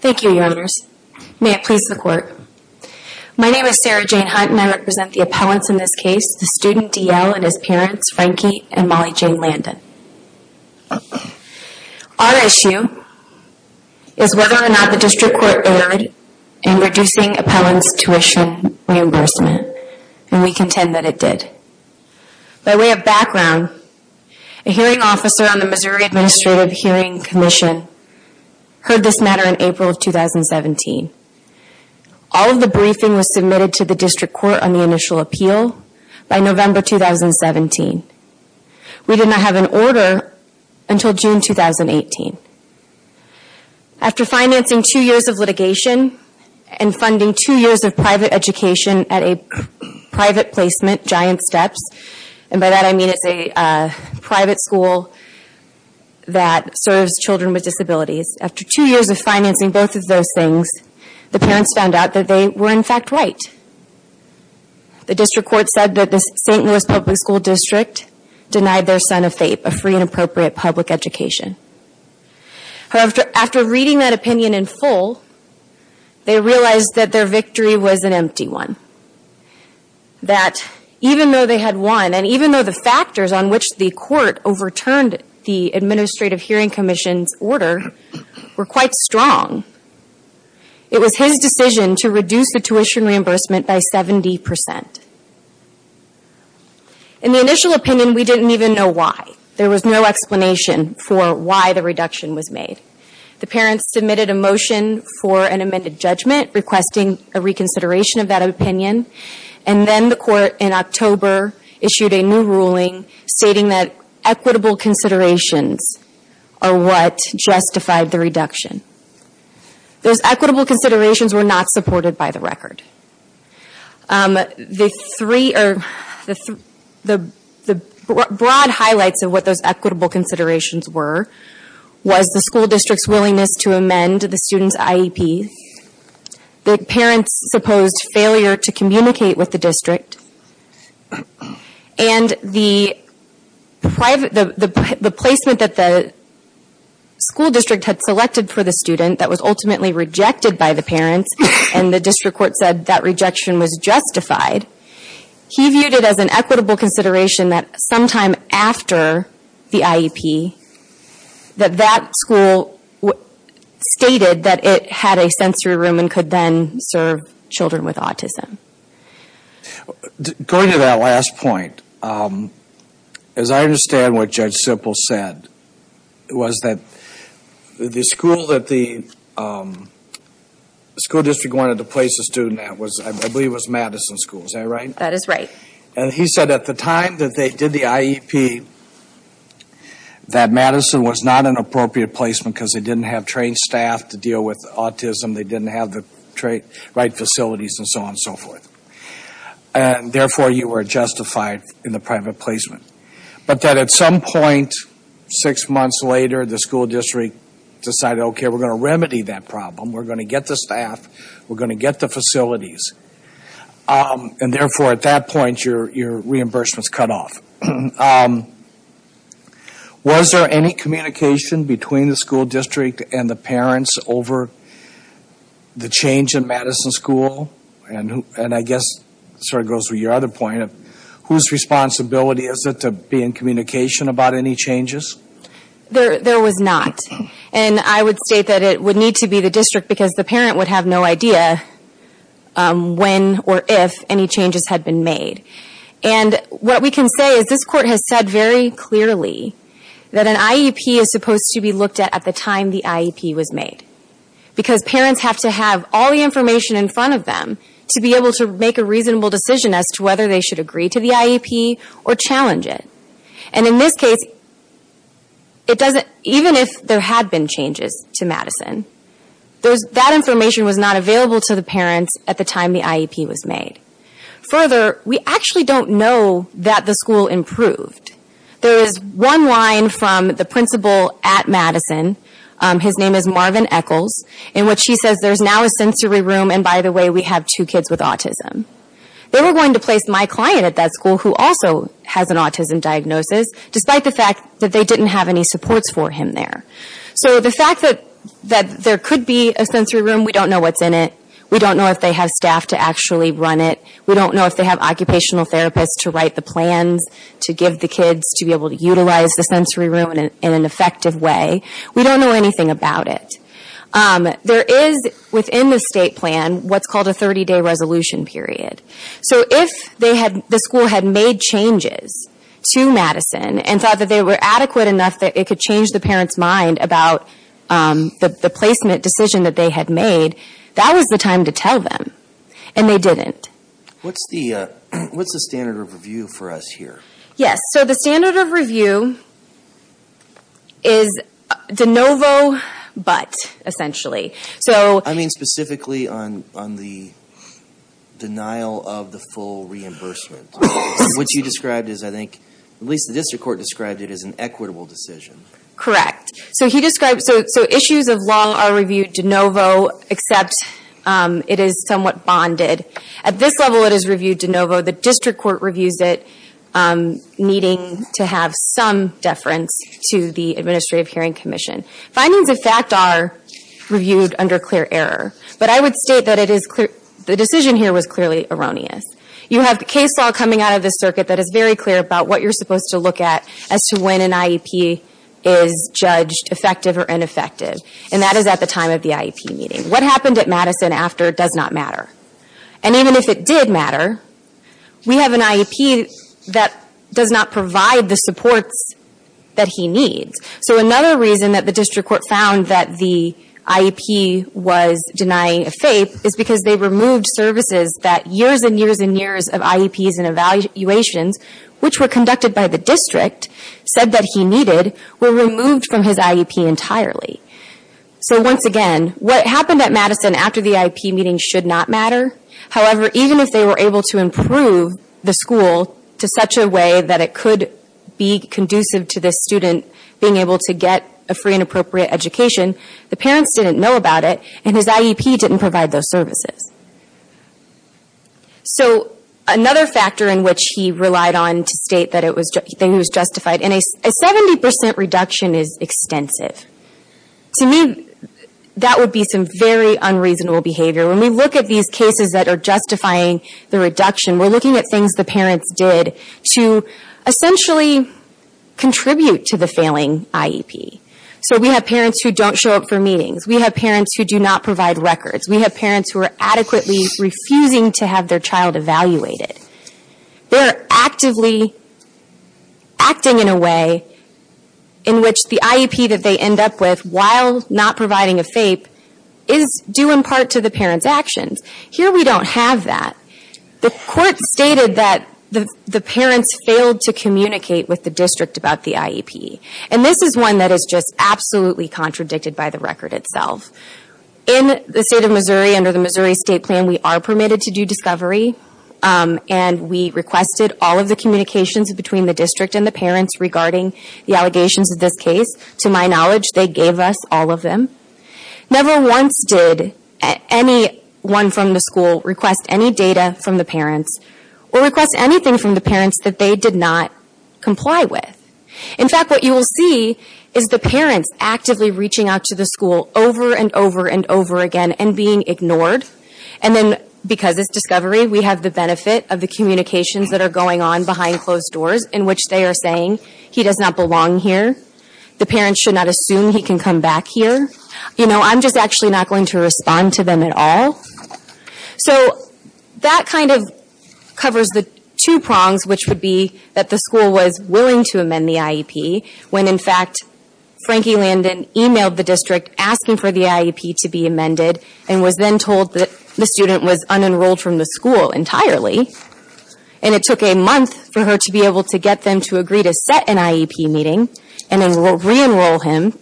Thank you, Your Honors. May it please the Court. My name is Sarah Jane Hunt and I represent the appellants in this case, the student D. L. and his parents, Frankie and Molly Jane Landon. Our issue is whether or not the District Court erred in reducing appellants' tuition reimbursement, and we contend that it did. By way of background, a hearing officer on the Missouri Administrative Hearing Commission heard this matter in April of 2017. All of the briefing was submitted to the District Court on the initial appeal by November 2017. We did not have an order until June 2018. After financing two years of litigation and funding two years of private education at a private placement, Giant Steps, and by that I mean it's a private school that serves children with disabilities. After two years of financing both of those things, the parents found out that they were in fact right. The District Court of St. Louis Public School District denied their son a FAPE, a Free and Appropriate Public Education. However, after reading that opinion in full, they realized that their victory was an empty one. That even though they had won, and even though the factors on which the Court overturned the Administrative Hearing Commission's order were quite strong, it was his decision to reduce the tuition reimbursement by 70%. In the initial opinion, we didn't even know why. There was no explanation for why the reduction was made. The parents submitted a motion for an amended judgment requesting a reconsideration of that opinion, and then the Court in October issued a new ruling stating that equitable considerations are what justified the reduction. Those equitable considerations were not supported by the record. The broad highlights of what those equitable considerations were, was the school district's willingness to amend the student's IEP, the parents' supposed failure to communicate with the district, and the placement that the school district had selected for the student that was ultimately rejected by the parents, and the District Court said that rejection was justified, he viewed it as an equitable consideration that sometime after the IEP, that that school stated that it had a sensory room and could then serve children with autism. Going to that last point, as I understand what Judge Sippel said, was that the school that the school district wanted to place the student at was, I believe it was Madison School, is that right? That is right. And he said at the time that they did the IEP, that Madison was not an appropriate placement because they didn't have trained staff to deal with autism, they didn't have the right facilities and so on and so forth. And therefore, you were justified in the private placement. But that at some point, six months later, the school district decided, okay, we're going to remedy that problem, we're going to get the staff, we're going to get the facilities. And therefore, at that point, your reimbursement is cut off. Was there any communication between the school district and the parents over the change in Madison School? And I guess it sort of goes with your other point, whose responsibility is it to be in communication about any changes? There was not. And I would state that it would have no idea when or if any changes had been made. And what we can say is this court has said very clearly that an IEP is supposed to be looked at at the time the IEP was made. Because parents have to have all the information in front of them to be able to make a reasonable decision as to whether they should agree to the IEP or challenge it. And in this case, it doesn't, even if there had been changes to Madison, that information was not available to the parents at the time the IEP was made. Further, we actually don't know that the school improved. There is one line from the principal at Madison, his name is Marvin Eccles, in which he says, there's now a sensory room, and by the way, we have two kids with autism. They were going to place my client at that school who also has an autism diagnosis, despite the fact that they didn't have any supports for him there. So the fact that there could be a sensory room, we don't know what's in it. We don't know if they have staff to actually run it. We don't know if they have occupational therapists to write the plans to give the kids to be able to utilize the sensory room in an effective way. We don't know anything about it. There is, within the state plan, what's called a 30-day resolution period. So if the school had made changes to Madison and thought that they were adequate enough that it could change the parents' mind about the placement decision that they had made, that was the time to tell them. And they didn't. What's the standard of review for us here? Yes, so the standard of review is de novo but, essentially. I mean specifically on the denial of the full reimbursement. What you described, at least the district court described it as an equitable decision. Correct. So issues of law are reviewed de novo except it is somewhat bonded. At this level it is reviewed de novo. The district court reviews it needing to have some deference to the Administrative Hearing Commission. Findings of fact are reviewed under clear error. But I would state that the decision here was clearly erroneous. You have the case law coming out of this circuit that is very clear about what you're supposed to look at as to when an IEP is judged effective or ineffective. And that is at the time of the IEP meeting. What happened at Madison after does not matter. And even if it did matter, we have an IEP that does not provide the supports that he needs. So another reason that the district court found that the IEP was denying a FAPE is because they removed services that years and years and years of IEPs and evaluations, which were conducted by the district, said that he needed, were removed from his IEP entirely. So once again, what happened at Madison after the IEP meeting should not matter. However, even if they were able to improve the school to such a way that it could be conducive to this student being able to get a free and appropriate education, the parents didn't know about it, and his IEP didn't provide those services. So another factor in which he relied on to state that it was justified, and a 70% reduction is extensive. To me, that would be some very unreasonable behavior. When we look at these cases that are justifying the reduction, we're looking at things the parents did to essentially contribute to the failing IEP. So we have parents who don't show up for meetings. We have parents who do not provide records. We have parents who are adequately refusing to have their child evaluated. They're actively acting in a way in which the IEP that they end up with, while not providing a FAPE, is due in part to the parents' actions. Here we don't have that. The court stated that the parents failed to communicate with the district about the IEP. And this is one that is just absolutely contradicted by the record itself. In the state of Missouri, under the Missouri State Plan, we are permitted to do discovery, and we requested all of the communications between the district and the parents regarding the allegations of this case. To my knowledge, they gave us all of them. Never once did anyone from the school request any data from the parents or request anything from the parents that they did not comply with. In fact, what you will see is the parents actively reaching out to the school over and over and over again and being ignored. And then, because it's discovery, we have the benefit of the communications that are going on behind closed doors in which they are saying, he does not belong here. The parents should not assume he can come back here. You know, I'm just actually not going to respond to them at all. So that kind of covers the two prongs, which would be that the school was willing to amend the IEP, when in fact, Frankie Landon emailed the district asking for the IEP to be amended and was then told that the student was unenrolled from the school entirely. And it took a month for her to be able to get them to agree to set an IEP meeting and then re-enroll him.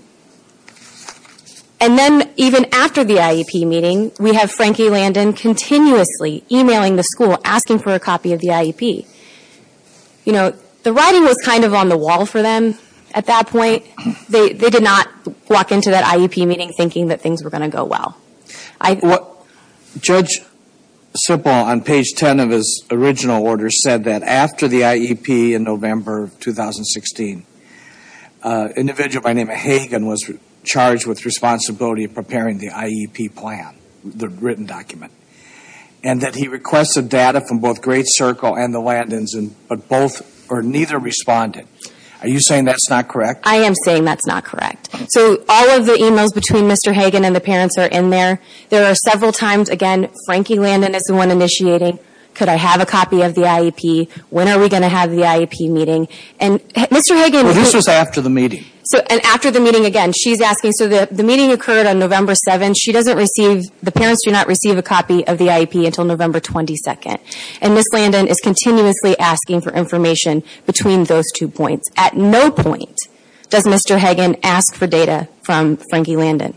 And then, even after the IEP meeting, we have Frankie Landon continuously emailing the school asking for a copy of the IEP. You know, the writing was kind of on the wall for them at that point. They did not walk into that IEP meeting thinking that things were going to go well. Judge Sippel, on page 10 of his original order, said that after the IEP in November 2016, an individual by the name of Hagen was charged with responsibility for preparing the IEP plan, the written document. And that he requested data from both Great Circle and the Landons, but neither responded. Are you saying that's not correct? I am saying that's not correct. So all of the emails between Mr. Hagen and the parents are in there. There are several times, again, Frankie Landon is the one initiating. Could I have a copy of the IEP? When are we going to have the IEP meeting? And Mr. Hagen... Well, this was after the meeting. And after the meeting, again, she's asking. So the meeting occurred on November 7th. She doesn't receive, the parents do not receive a copy of the IEP until November 22nd. And Ms. Landon is continuously asking for information between those two points. At no point does Mr. Hagen ask for data from Frankie Landon.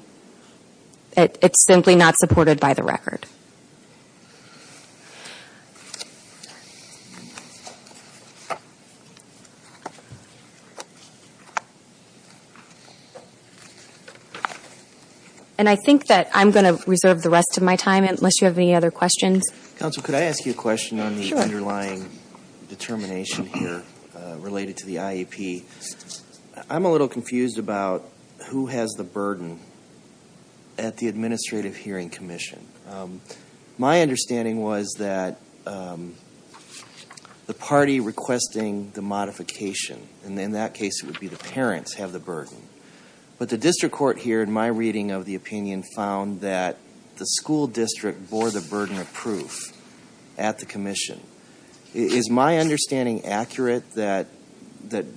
It's simply not supported by the record. And I think that I'm going to reserve the rest of my time, unless you have any other questions. Counsel, could I ask you a question on the underlying determination here, related to the IEP? I'm a little confused about who has the burden at the Administrative Hearing Commission. My understanding was that the party requesting the modification, and in that case it would be the parents, have the burden. But the district court here, in my reading of the opinion, found that the school district bore the burden of proof at the commission. Is my understanding accurate that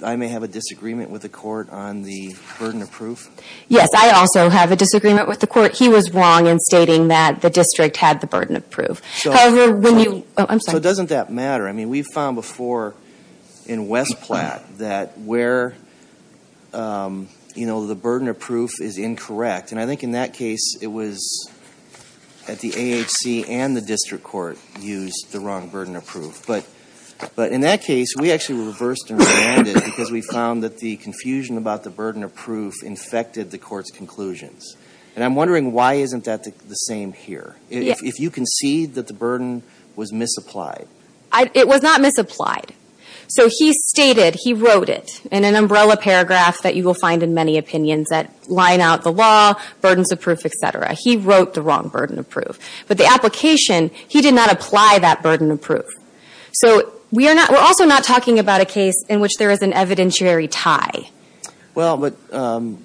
I may have a disagreement with the court on the burden of proof? Yes, I also have a disagreement with the court. He was wrong in stating that the district had the burden of proof. However, when you, oh, I'm sorry. So doesn't that matter? I mean, we've found before in West Platte that where, you know, the burden of proof is incorrect. And I think in that case, it was at the AHC and the district court used the wrong burden of proof. But in that case, we actually were reversed and reminded because we found that the confusion about the burden of proof infected the court's conclusions. And I'm wondering why isn't that the same here? If you concede that the burden was misapplied. It was not misapplied. So he stated, he wrote it in an umbrella paragraph that you will find in many opinions that line out the law, burdens of proof, et cetera. He wrote the he did not apply that burden of proof. So we are not, we're also not talking about a case in which there is an evidentiary tie. Well, but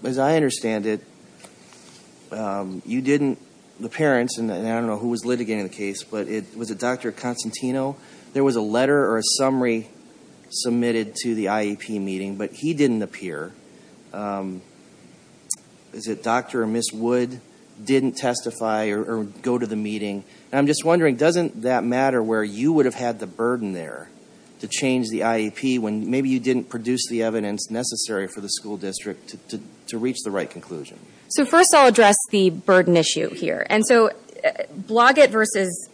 as I understand it, you didn't, the parents, and I don't know who was litigating the case, but it was a Dr. Constantino. There was a letter or a summary submitted to the IEP meeting, but he didn't appear. Is it Dr. or Ms. Wood didn't testify or go to the meeting? And I'm just wondering, doesn't that matter where you would have had the burden there to change the IEP when maybe you didn't produce the evidence necessary for the school district to reach the right conclusion? So first I'll address the burden issue here. And so Bloggett versus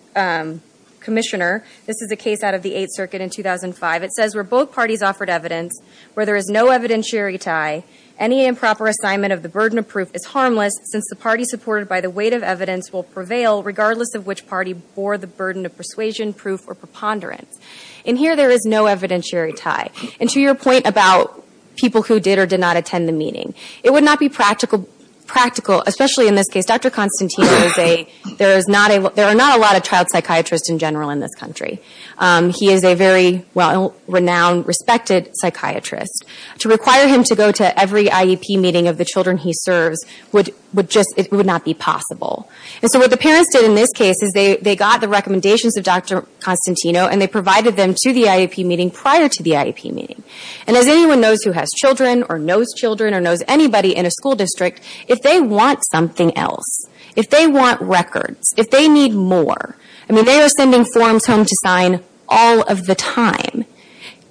Commissioner, this is a case out of the Eighth Circuit in 2005. It says where both parties offered evidence where there is no evidentiary tie, any improper assignment of the burden of proof is harmless since the party supported by the weight of evidence will prevail regardless of which party bore the burden of persuasion, proof, or preponderance. And here there is no evidentiary tie. And to your point about people who did or did not attend the meeting, it would not be practical, especially in this case. Dr. Constantino is a, there are not a lot of child psychiatrists in general in this country. He is a very well-renowned, respected psychiatrist. To require him to go to every IEP meeting of the children he serves would just, it would not be possible. And so what the parents did in this case is they got the recommendations of Dr. Constantino and they provided them to the IEP meeting prior to the IEP meeting. And as anyone knows who has children, or knows children, or knows anybody in a school district, if they want something else, if they want records, if they need more, I mean they are sending forms home to sign all of the time,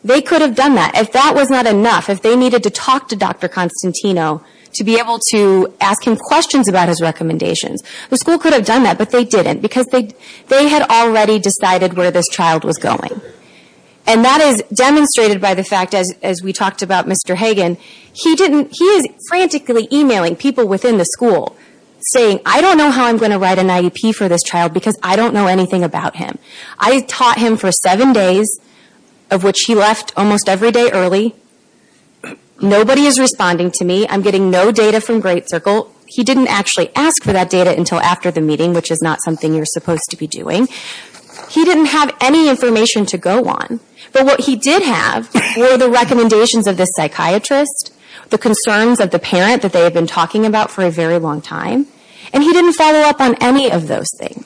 they could have done that. If that was not enough, if they needed to talk to Dr. Constantino to be able to ask him questions about his recommendations, the school could have done that, but they didn't because they had already decided where this child was going. And that is demonstrated by the fact, as we talked about Mr. Hagan, he didn't, he is frantically emailing people within the school saying, I don't know how I'm going to write an IEP for this child because I don't know anything about him. I taught him for seven days, of which he left almost every day early. Nobody is responding to me. I'm getting no data from Great Circle. He didn't actually ask for that data until after the meeting, which is not something you're supposed to be doing. He didn't have any information to go on. But what he did have were the recommendations of this psychiatrist, the concerns of the parent that they had been talking about for a very long time, and he didn't follow up on any of those things.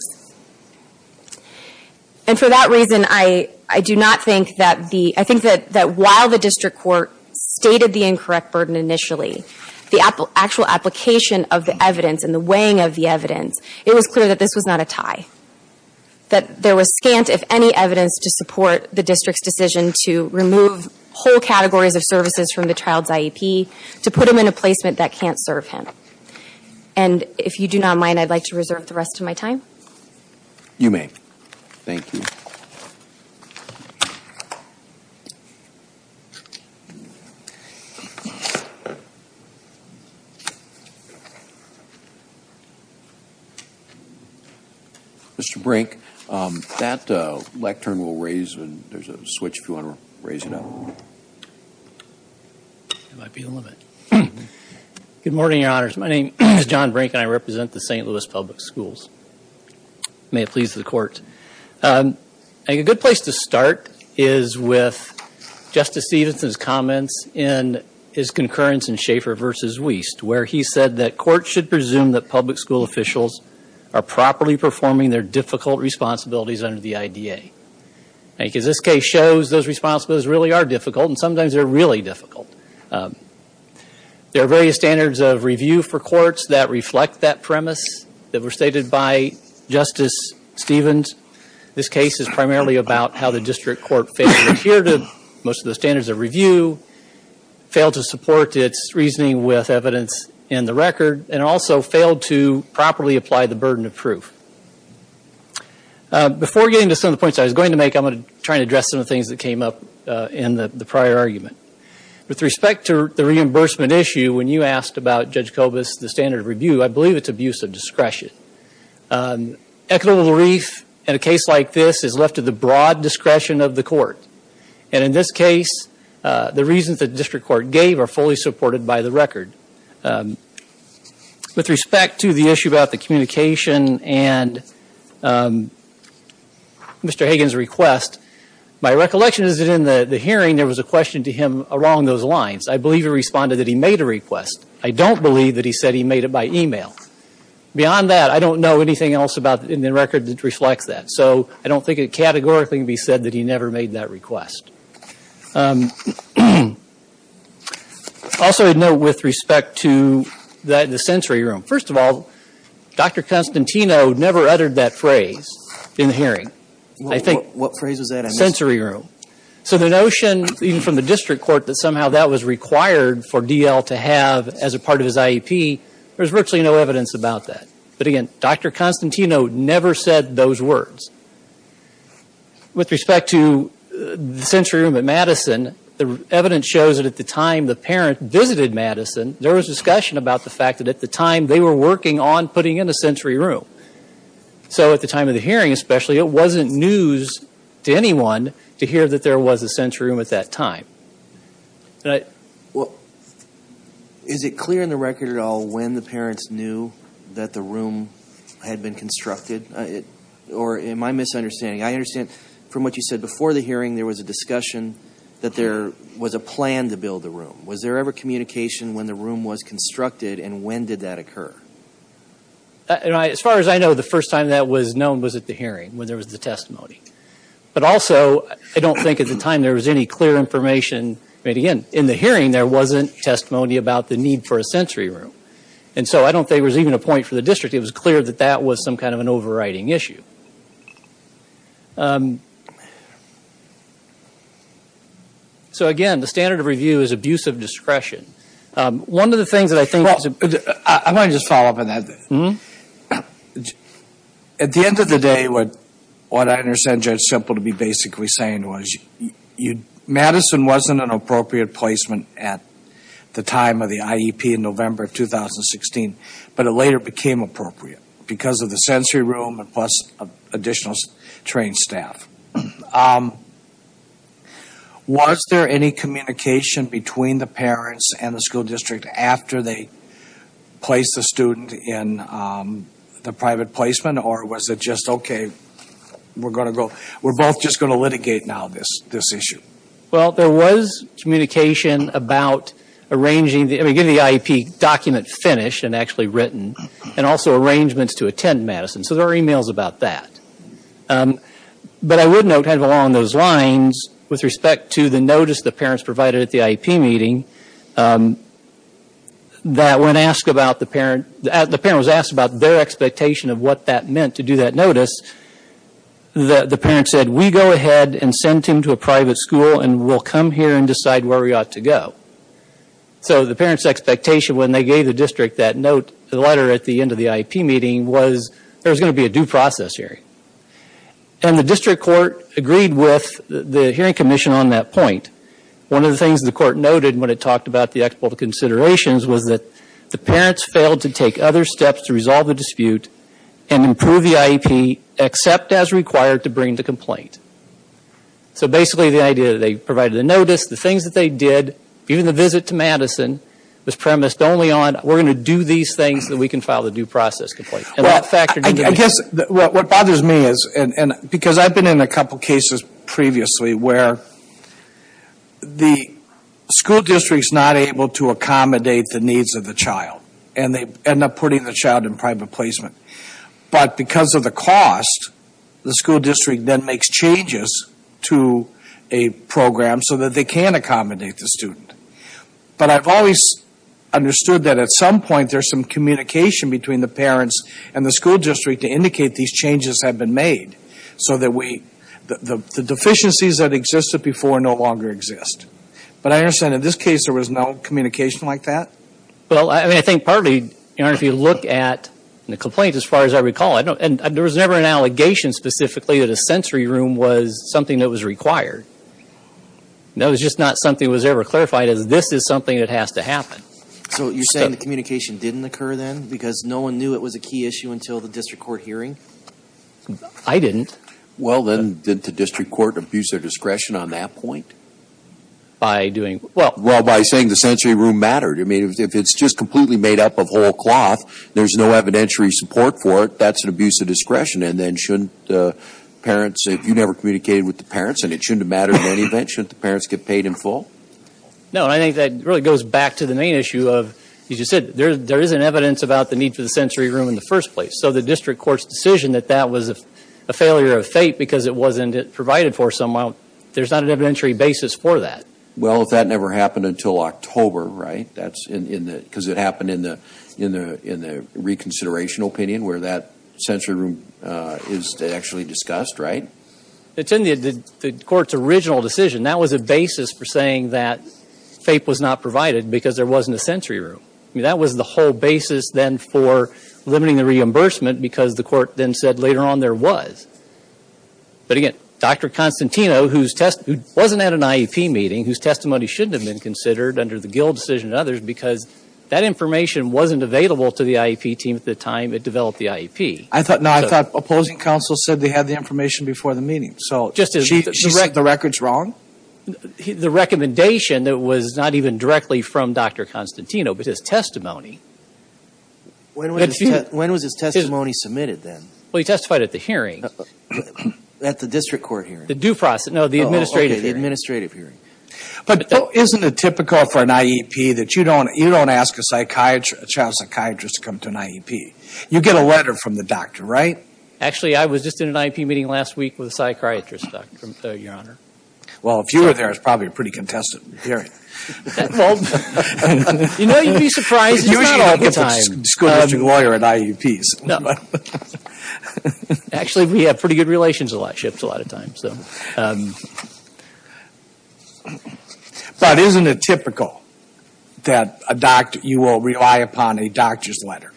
And for that reason, I do not think that the, I think that while the district court stated the incorrect burden initially, the actual application of the evidence and the weighing of the evidence, it was clear that this was not a tie. That there was scant, if any, evidence to support the district's decision to remove whole categories of services from the child's IEP, to put him in a placement that can't serve him. And if you do not mind, I'd like to reserve the rest of my time. You may. Thank you. Mr. Brink, that lectern will raise, there's a switch if you want to raise it up. Good morning, your honors. My name is John Brink and I represent the St. Louis Public Schools. May it please the court. A good place to start is with Justice Stevenson's comments in his concurrence in Schaefer v. Wiest, where he said that courts should presume that public school officials are properly performing their difficult responsibilities under the IDA. Because this case shows those responsibilities really are difficult and sometimes they're really difficult. There are various standards of review for courts that reflect that premise that were stated by Justice Stevens. This case is primarily about how the district court failed to adhere to most of the standards of review, failed to support its reasoning with evidence in the record, and also failed to properly apply the burden of proof. Before getting to some of the points I was going to make, I'm going to try and address some of the things that came up in the prior argument. With respect to the reimbursement issue, when you asked about Judge Kobus, the standard of review, I believe it's abuse of discretion. Ecuador Little Reef, in a case like this, is left to the broad discretion of the court. And in this case, the reasons the district court gave are fully supported by the record. With respect to the issue about the communication and Mr. Hagan's request, my recollection is that in the hearing there was a question to him along those lines. I believe he responded that he made a request. I don't believe that he said he made it by email. Beyond that, I don't know anything else in the record that reflects that. So I don't think it categorically can be said that he never made that request. Also, a note with respect to the sensory room. First of all, Dr. Constantino never uttered that phrase in the hearing. I think, sensory room. So the notion, even from the district court, that somehow that was required for D.L. to have as a part of his IEP, there's virtually no evidence about that. But again, Dr. Constantino never said those words. With respect to the sensory room at Madison, the evidence shows that at the time the parent visited Madison, there was discussion about the fact that at the time they were working on putting in a sensory room. So at the time of the hearing especially, it wasn't news to anyone to hear that there was a sensory room at that time. Is it clear in the record at all when the parents knew that the room had been constructed? Or am I misunderstanding? I understand from what you said before the hearing, there was a discussion that there was a plan to build the room. Was there ever communication when the room was constructed and when did that occur? As far as I know, the first time that was known was at the hearing, when there was the testimony. But also, I don't think at the time there was any clear information. Again, in the hearing there wasn't testimony about the need for a sensory room. And so I don't think there was even a point for the district. It was clear that that was some kind of an overriding issue. So again, the standard of review is abuse of discretion. One of the things that I think... I want to just follow up on that. At the end of the day, what I understand Judge Semple to be basically saying was, Madison wasn't an appropriate placement at the time of the IEP in November of 2016. But it later became appropriate because of the sensory room and plus additional trained staff. Was there any communication between the parents and the school district after they placed the student in the private placement? Or was it just, okay, we're both just going to litigate now this issue? Well, there was communication about arranging... I mean, getting the IEP document finished and actually written. And also arrangements to attend Madison. So there were emails about that. But I would note, kind of along those lines, with respect to the notice the parents provided at the IEP meeting, that when asked about the parent... the parent was asked about their expectation of what that meant to do that notice, the parent said, we go ahead and send him to a private school and we'll come here and decide where we ought to go. So the parent's expectation when they gave the district that note, the letter at the end of the IEP meeting, was there was going to be a due process hearing. And the district court agreed with the hearing commission on that point. One of the things the court noted when it talked about the expert considerations was that the parents failed to take other to bring the complaint. So basically the idea that they provided the notice, the things that they did, even the visit to Madison was premised only on, we're going to do these things so that we can file the due process complaint. And that factored into the... Well, I guess what bothers me is, because I've been in a couple cases previously where the school district's not able to accommodate the needs of the child. And they end up putting the child in private placement. But because of the cost, the school district then makes changes to a program so that they can accommodate the student. But I've always understood that at some point there's some communication between the parents and the school district to indicate these changes have been made. So that the deficiencies that existed before no longer exist. But I understand in this case there was no communication like that? Well, I mean, I think partly, you know, if you look at the complaint, as far as I recall, and there was never an allegation specifically that a sensory room was something that was required. That was just not something that was ever clarified as this is something that has to happen. So you're saying the communication didn't occur then? Because no one knew it was a key issue until the district court hearing? I didn't. Well then, didn't the district court abuse their discretion on that point? By doing, well... If it's just completely made up of whole cloth, there's no evidentiary support for it, that's an abuse of discretion. And then shouldn't the parents, if you never communicated with the parents and it shouldn't have mattered in any event, shouldn't the parents get paid in full? No, and I think that really goes back to the main issue of, as you said, there isn't evidence about the need for the sensory room in the first place. So the district court's decision that that was a failure of fate because it wasn't provided for somehow, there's not an evidentiary basis for that. Well, if that never happened until October, right? Because it happened in the reconsideration opinion where that sensory room is actually discussed, right? It's in the court's original decision. That was a basis for saying that FAPE was not provided because there wasn't a sensory room. I mean, that was the whole basis then for limiting the reimbursement because the court then said later on there was. But again, Dr. Constantino, who wasn't at an IEP meeting, whose testimony shouldn't have been considered under the Gill decision and others because that information wasn't available to the IEP team at the time it developed the IEP. I thought, no, I thought opposing counsel said they had the information before the meeting. So the record's wrong? The recommendation that was not even directly from Dr. Constantino, but his testimony. When was his testimony submitted then? Well, he testified at the hearing. At the district court hearing? The due process. No, the administrative hearing. Oh, okay, the administrative hearing. But isn't it typical for an IEP that you don't ask a child psychiatrist to come to an IEP? You get a letter from the doctor, right? Actually, I was just in an IEP meeting last week with a psychiatrist, Your Honor. Well, if you were there, it's probably a pretty contested hearing. Well, you know, you'd be surprised. It's not all the time, school district lawyer and IEPs. No. Actually, we have pretty good relationships a lot of times. But isn't it typical that you will rely upon a doctor's letter?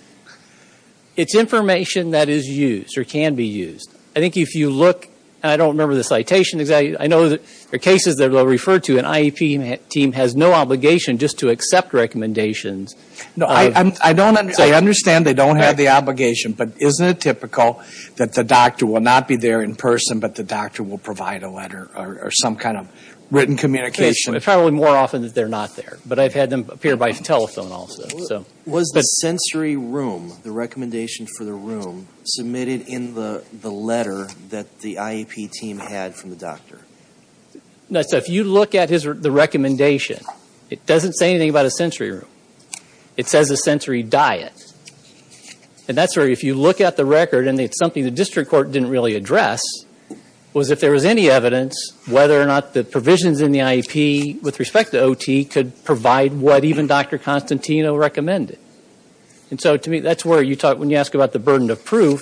It's information that is used or can be used. I think if you look, and I don't remember the citation exactly, I know there are cases that are referred to, an IEP team has no obligation just to accept recommendations. No, I understand they don't have the obligation. But isn't it typical that the doctor will not be there in person, but the doctor will provide a letter or some kind of written communication? It's probably more often that they're not there. But I've had them appear by telephone also. Was the sensory room, the recommendation for the room, submitted in the letter that the IEP team had from the doctor? No, so if you look at the recommendation, it doesn't say anything about a sensory room. It says a sensory diet. And that's where, if you look at the record, and it's something the district court didn't really address, was if there was any evidence whether or not the provisions in the IEP with respect to OT could provide what even Dr. Constantino recommended. And so to me, that's where you talk, when you ask about the burden of proof,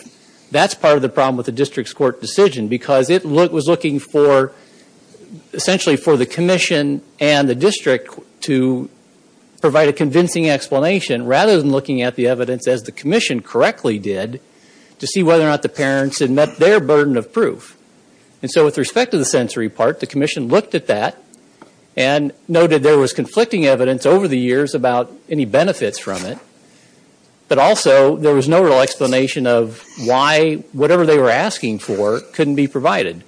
that's part of the problem with the district's court decision. Because it was looking for, essentially for the commission and the district to provide a convincing explanation, rather than looking at the evidence, as the commission correctly did, to see whether or not the parents had met their burden of proof. And so with respect to the sensory part, the commission looked at that, and noted there was conflicting evidence over the years about any benefits from it. But also, there was no real explanation of why whatever they were asking for couldn't be provided.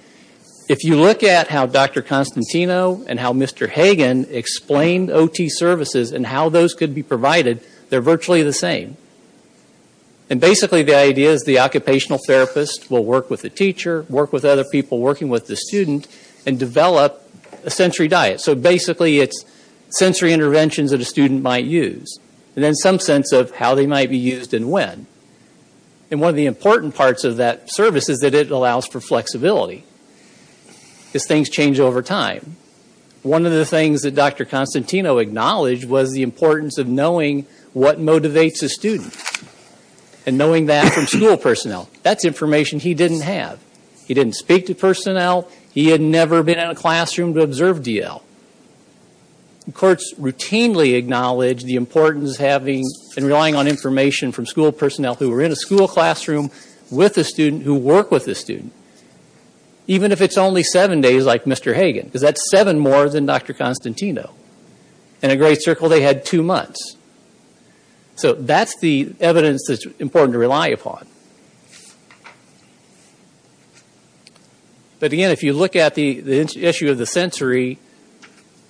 If you look at how Dr. Constantino and how Mr. Hagan explained OT services and how those could be provided, they're virtually the same. And basically, the idea is the occupational therapist will work with the teacher, work with other people working with the student, and develop a sensory diet. So basically, it's sensory interventions that a student might use. And then some sense of how they might be used and when. And one of the important parts of that service is that it allows for flexibility. Because things change over time. One of the things that Dr. Constantino acknowledged was the importance of knowing what motivates a student. And knowing that from school personnel. That's information he didn't have. He didn't speak to personnel. He had never been in a classroom to observe DL. Courts routinely acknowledge the importance of having and relying on information from school personnel who were in a school classroom with a student, who work with a student. Even if it's only seven days like Mr. Hagan. Because that's seven more than Dr. Constantino. In a great circle, they had two months. So that's the evidence that's important to rely upon. But again, if you look at the issue of the sensory,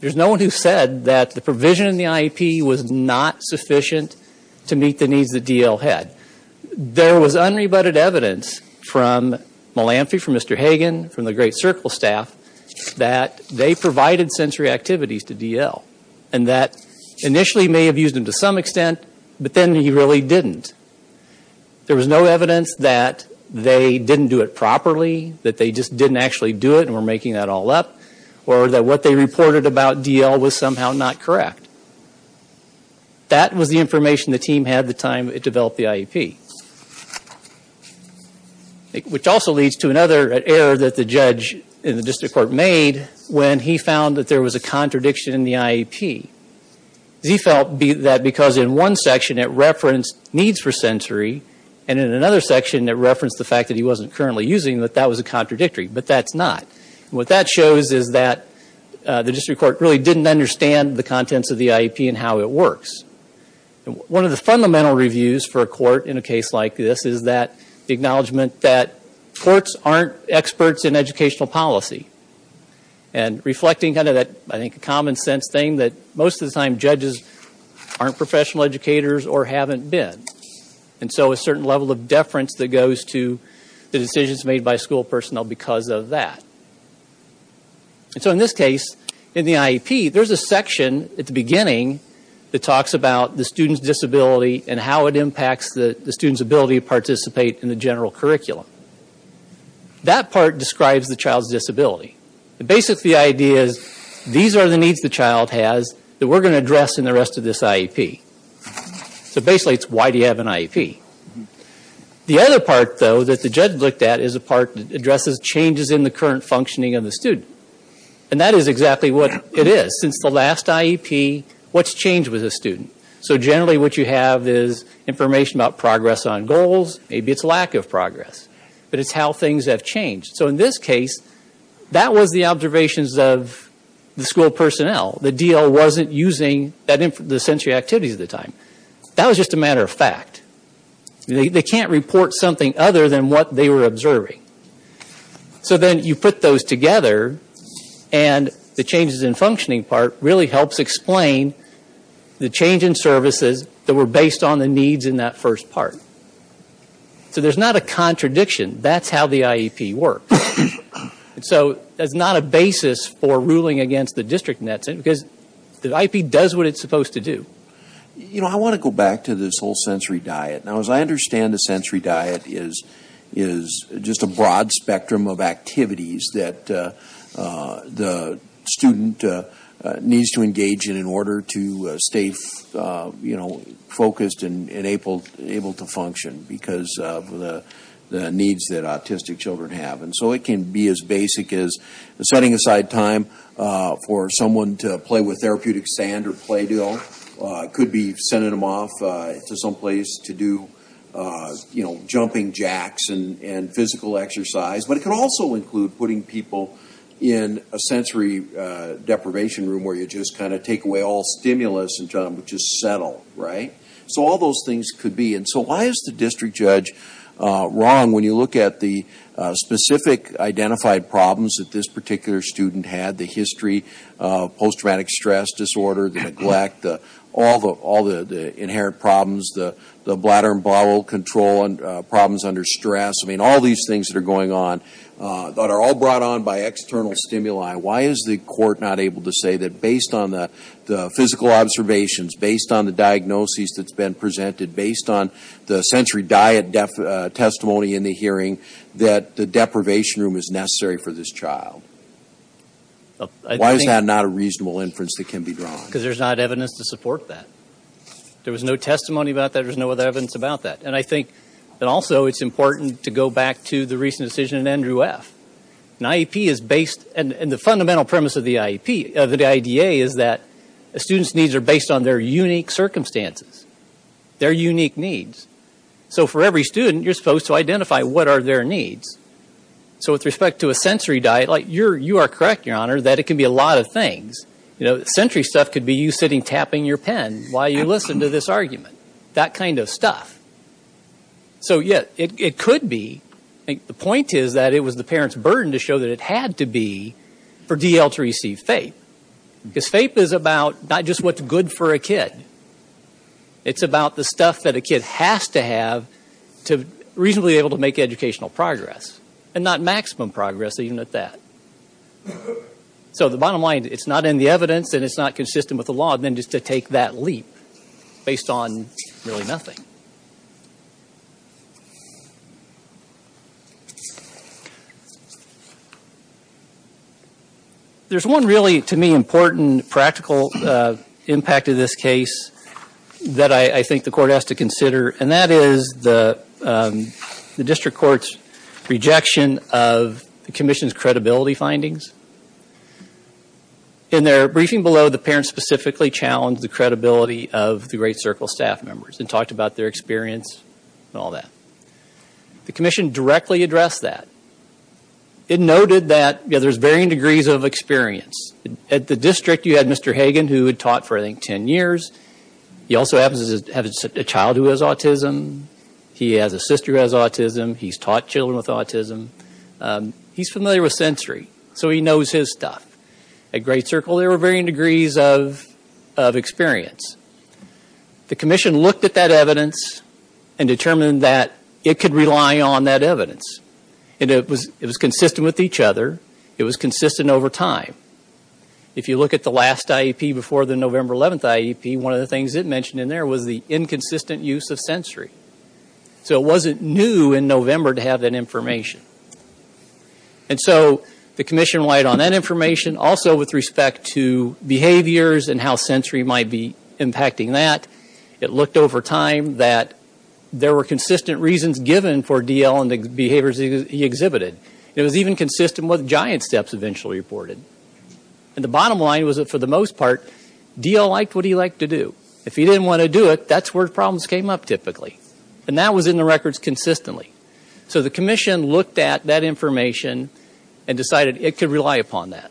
there's no one who said that the provision in the IEP was not sufficient to meet the needs that DL had. There was unrebutted evidence from Mr. Hagan, from the great circle staff, that they provided sensory activities to DL. And that initially may have used them to some extent, but then he really didn't. There was no evidence that they didn't do it properly. That they just didn't actually do it and were making that all up. Or that what they reported about DL was somehow not correct. That was the information the team had the time it developed the IEP. Which also leads to another error that the judge in the district court made, when he found that there was a contradiction in the IEP. He felt that because in one section it referenced needs for sensory, and in another section it referenced the fact that he wasn't currently using, that that was a contradictory, but that's not. What that shows is that the district court really didn't understand the contents of the IEP and how it works. One of the fundamental reviews for a court in a case like this is the acknowledgement that courts aren't experts in educational policy. And reflecting that common sense thing that most of the time judges aren't professional educators or haven't been. And so a certain level of deference that goes to the decisions made by school personnel because of that. And so in this case, in the IEP, there's a section at the beginning that talks about the student's disability and how it impacts the student's ability to participate in the general curriculum. That part describes the child's disability. The basic idea is these are the needs the child has that we're going to address in the rest of this IEP. So basically it's why do you have an IEP? The other part though that the judge looked at is a part that addresses changes in the current functioning of the student. And that is exactly what it is. Since the last IEP, what's changed with the student? So generally what you have is information about progress on goals. Maybe it's lack of progress. But it's how things have changed. So in this case, that was the observations of the school personnel. The DL wasn't using the sensory activities at the time. That was just a matter of fact. They can't report something other than what they were observing. So then you put those together. And the changes in functioning part really helps explain the change in services that were based on the needs in that first part. So there's not a contradiction. That's how the IEP works. So that's not a basis for ruling against the district nets. Because the IEP does what it's supposed to do. You know, I want to go back to this whole sensory diet. Now as I understand the sensory diet is just a broad spectrum of activities that the student needs to engage in in order to stay focused and able to function. Because of the needs that autistic children have. And so it can be as basic as setting aside time for someone to play with therapeutic sand or Play-Doh. It could be sending them off to someplace to do jumping jacks and physical exercise. But it could also include putting people in a sensory deprivation room where you just kind of take away all stimulus and tell them to just settle. Right? So all those things could be. And so why is the district judge wrong when you look at the specific identified problems that this particular student had? The history of post-traumatic stress disorder, the neglect, all the inherent problems, the bladder and bowel control and problems under stress. I mean, all these things that are going on that are all brought on by external stimuli. Why is the court not able to say that based on the physical observations, based on the diagnoses that's been presented, based on the sensory diet testimony in the hearing, that the deprivation room is necessary for this child? Why is that not a reasonable inference that can be drawn? Because there's not evidence to support that. There was no testimony about that. There was no other evidence about that. And I think that also it's important to go back to the recent decision in Andrew F. An IEP is based, and the fundamental premise of the IDEA is that a student's needs are based on their unique circumstances. Their unique needs. So for every student, you're supposed to identify what are their needs. So with respect to a sensory diet, you are correct, Your Honor, that it can be a lot of things. You know, sensory stuff could be you sitting tapping your pen while you listen to this argument. That kind of stuff. So yeah, it could be. The point is that it was the parent's burden to show that it had to be for D.L. to receive FAPE. Because FAPE is about not just what's good for a kid. It's about the stuff that a kid has to have to reasonably be able to make educational progress. And not maximum progress, even at that. So the bottom line, it's not in the evidence and it's not consistent with the law, then just to take that leap based on really nothing. There's one really, to me, important, practical impact of this case that I think the Court has to consider. And that is the District Court's rejection of the Commission's credibility findings. In their briefing below, the parents specifically challenged the credibility of the Great Circle staff members and talked about their experience and all that. The Commission directly addressed that. It noted that there's varying degrees of experience. At the District, you had Mr. Hagan, who had taught for, I think, 10 years. He also happens to have a child who has autism. He has a sister who has autism. He's taught children with autism. He's familiar with sensory, so he knows his stuff. At Great Circle, there were varying degrees of experience. The Commission looked at that evidence and determined that it could rely on that evidence. And it was consistent with each other. It was consistent over time. If you look at the last IEP before the November 11th IEP, one of the things it mentioned in there was the inconsistent use of sensory. So it wasn't new in November to have that information. And so the Commission relied on that information. Also, with respect to behaviors and how sensory might be impacting that, it looked over time that there were consistent reasons given for D.L. and the behaviors he exhibited. It was even consistent with giant steps eventually reported. And the bottom line was that, for the most part, D.L. liked what he liked to do. If he didn't want to do it, that's where problems came up typically. And that was in the records consistently. So the Commission looked at that information and decided it could rely upon that.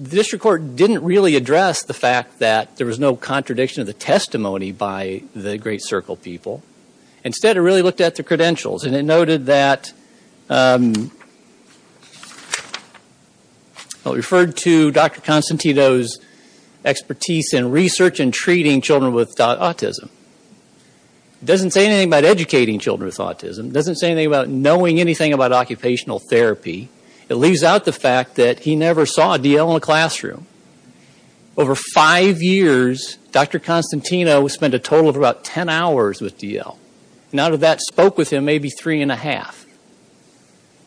The District Court didn't really address the fact that there was no contradiction of the testimony by the Great Circle people. Instead, it really looked at the credentials. And it noted that... It referred to Dr. Constantino's expertise in research and treating children with autism. It doesn't say anything about educating children with autism. It doesn't say anything about knowing anything about occupational therapy. It leaves out the fact that he never saw D.L. in a classroom. Over five years, Dr. Constantino spent a total of about 10 hours with D.L. None of that spoke with him, maybe three and a half.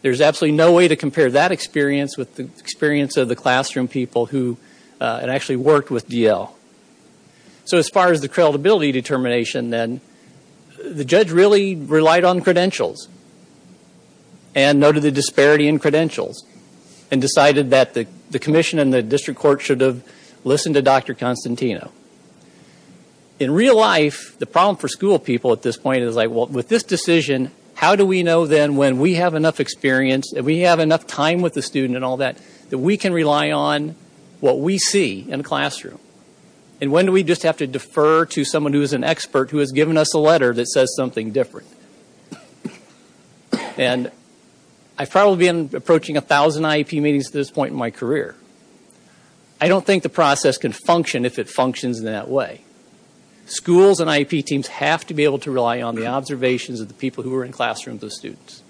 There's absolutely no way to compare that. You can't compare that experience with the experience of the classroom people who had actually worked with D.L. So as far as the credibility determination then, the judge really relied on credentials. And noted the disparity in credentials. And decided that the Commission and the District Court should have listened to Dr. Constantino. In real life, the problem for school people at this point is like, well, with this decision, how do we know then when we have enough experience, if we have enough time with the student and all that, that we can rely on what we see in the classroom? And when do we just have to defer to someone who is an expert who has given us a letter that says something different? And I've probably been approaching a thousand IEP meetings at this point in my career. I don't think the process can function if it functions in that way. Schools and IEP teams have to be able to rely on the observations of the people who were in classrooms with the students.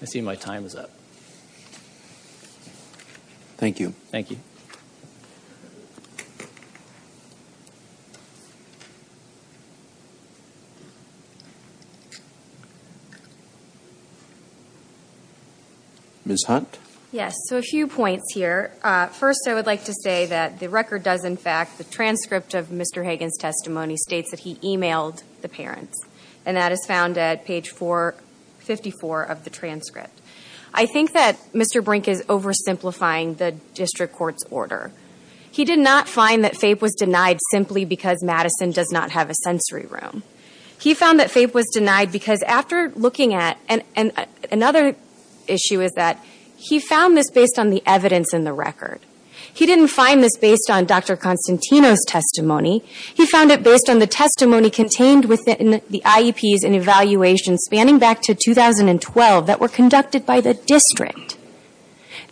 I see my time is up. Thank you. Thank you. Ms. Hunt? Yes. So a few points here. First, I would like to say that the record does, in fact, the transcript of Mr. Hagan's testimony states that he emailed the parents. And that is found at page 454 of the transcript. I think that Mr. Brink is oversimplifying the district court's order. He did not find that FAPE was denied simply because Madison does not have a sensory room. He found that FAPE was denied because after looking at, and another issue is that he found this based on the evidence in the record. He didn't find this based on Dr. Constantino's testimony. He found it based on the testimony contained within the IEPs and evaluations spanning back to 2012 that were conducted by the district.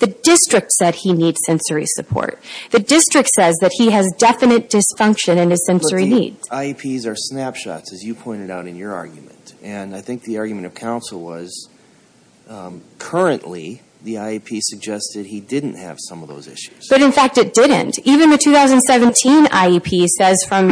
The district said he needs sensory support. The district says that he has definite dysfunction in his sensory needs. But the IEPs are snapshots, as you pointed out in your argument. And I think the argument of counsel was currently the IEP suggested he didn't have some of those issues. But in fact, it didn't. Even the 2017 IEP says from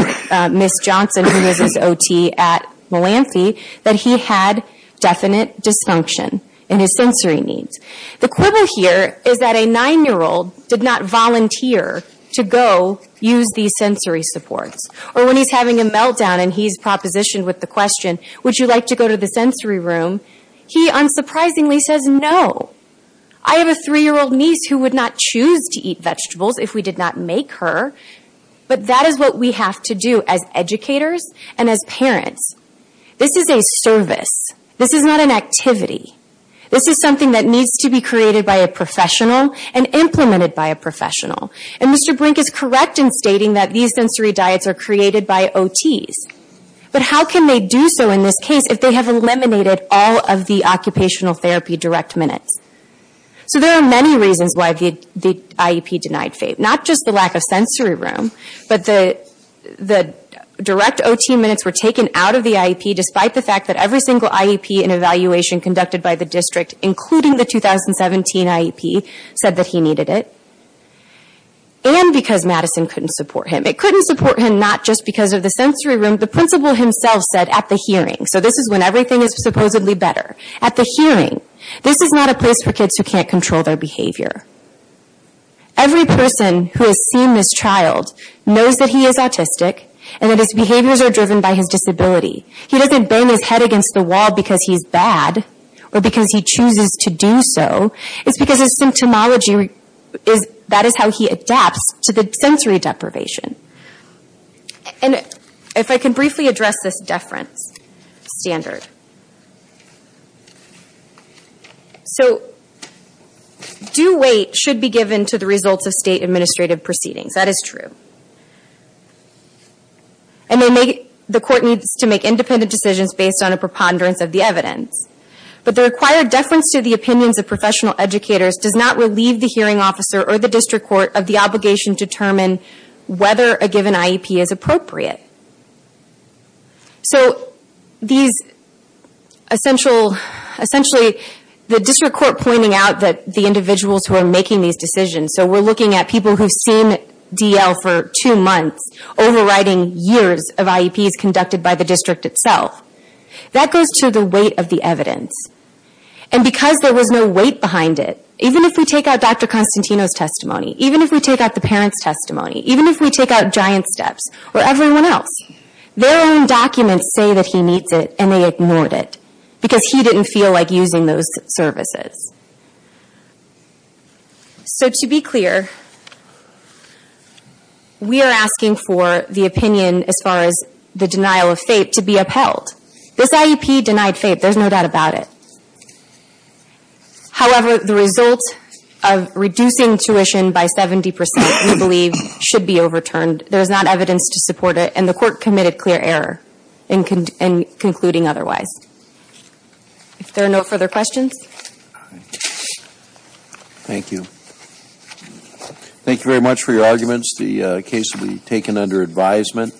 Ms. Johnson, who was his OT at Melanthi, that he had definite dysfunction in his sensory needs. The quibble here is that a nine-year-old did not volunteer to go use these sensory supports. Or when he's having a meltdown and he's propositioned with the question, would you like to go to the sensory room, he unsurprisingly says no. I have a three-year-old niece who would not choose to eat vegetables if we did not make her. But that is what we have to do as educators and as parents. This is a service. This is not an activity. This is something that needs to be created by a professional and implemented by a professional. And Mr. Brink is correct in stating that these sensory diets are created by OTs. But how can they do so in this case if they have eliminated all of the occupational therapy direct minutes? So there are many reasons why the IEP denied FAPE. Not just the lack of sensory room, but the direct OT minutes were taken out of the IEP despite the fact that every single IEP and evaluation conducted by the district, including the 2017 IEP, said that he needed it. And because Madison couldn't support him. It couldn't support him not just because of the sensory room, the principal himself said at the hearing. So this is when everything is supposedly better. At the hearing. This is not a place for kids who can't control their behavior. Every person who has seen this child knows that he is autistic and that his behaviors are driven by his disability. He doesn't bang his head against the wall because he's bad or because he chooses to do so. It's because his symptomology, that is how he adapts to the sensory deprivation. And if I can briefly address this deference standard. So, due weight should be given to the results of state administrative proceedings. That is true. And the court needs to make independent decisions based on a preponderance of the evidence. But the required deference to the opinions of professional educators does not relieve the hearing officer or the district court of the obligation to determine whether a given IEP is appropriate. So, these... Essentially, the district court pointing out that the individuals who are making these decisions, so we're looking at people who've seen DL for two months, overriding years of IEPs conducted by the district itself. That goes to the weight of the evidence. And because there was no weight behind it, even if we take out Dr. Constantino's testimony, even if we take out the parents' testimony, even if we take out Giant Steps, or everyone else, their own documents say that he needs it, and they ignored it. Because he didn't feel like using those services. So, to be clear, we are asking for the opinion, as far as the denial of FAPE, to be upheld. This IEP denied FAPE, there's no doubt about it. However, the result of reducing tuition by 70%, we believe, should be overturned. There's not evidence to support it, and the court committed clear error in concluding otherwise. If there are no further questions? Thank you. Thank you very much for your arguments. The case will be taken under advisement.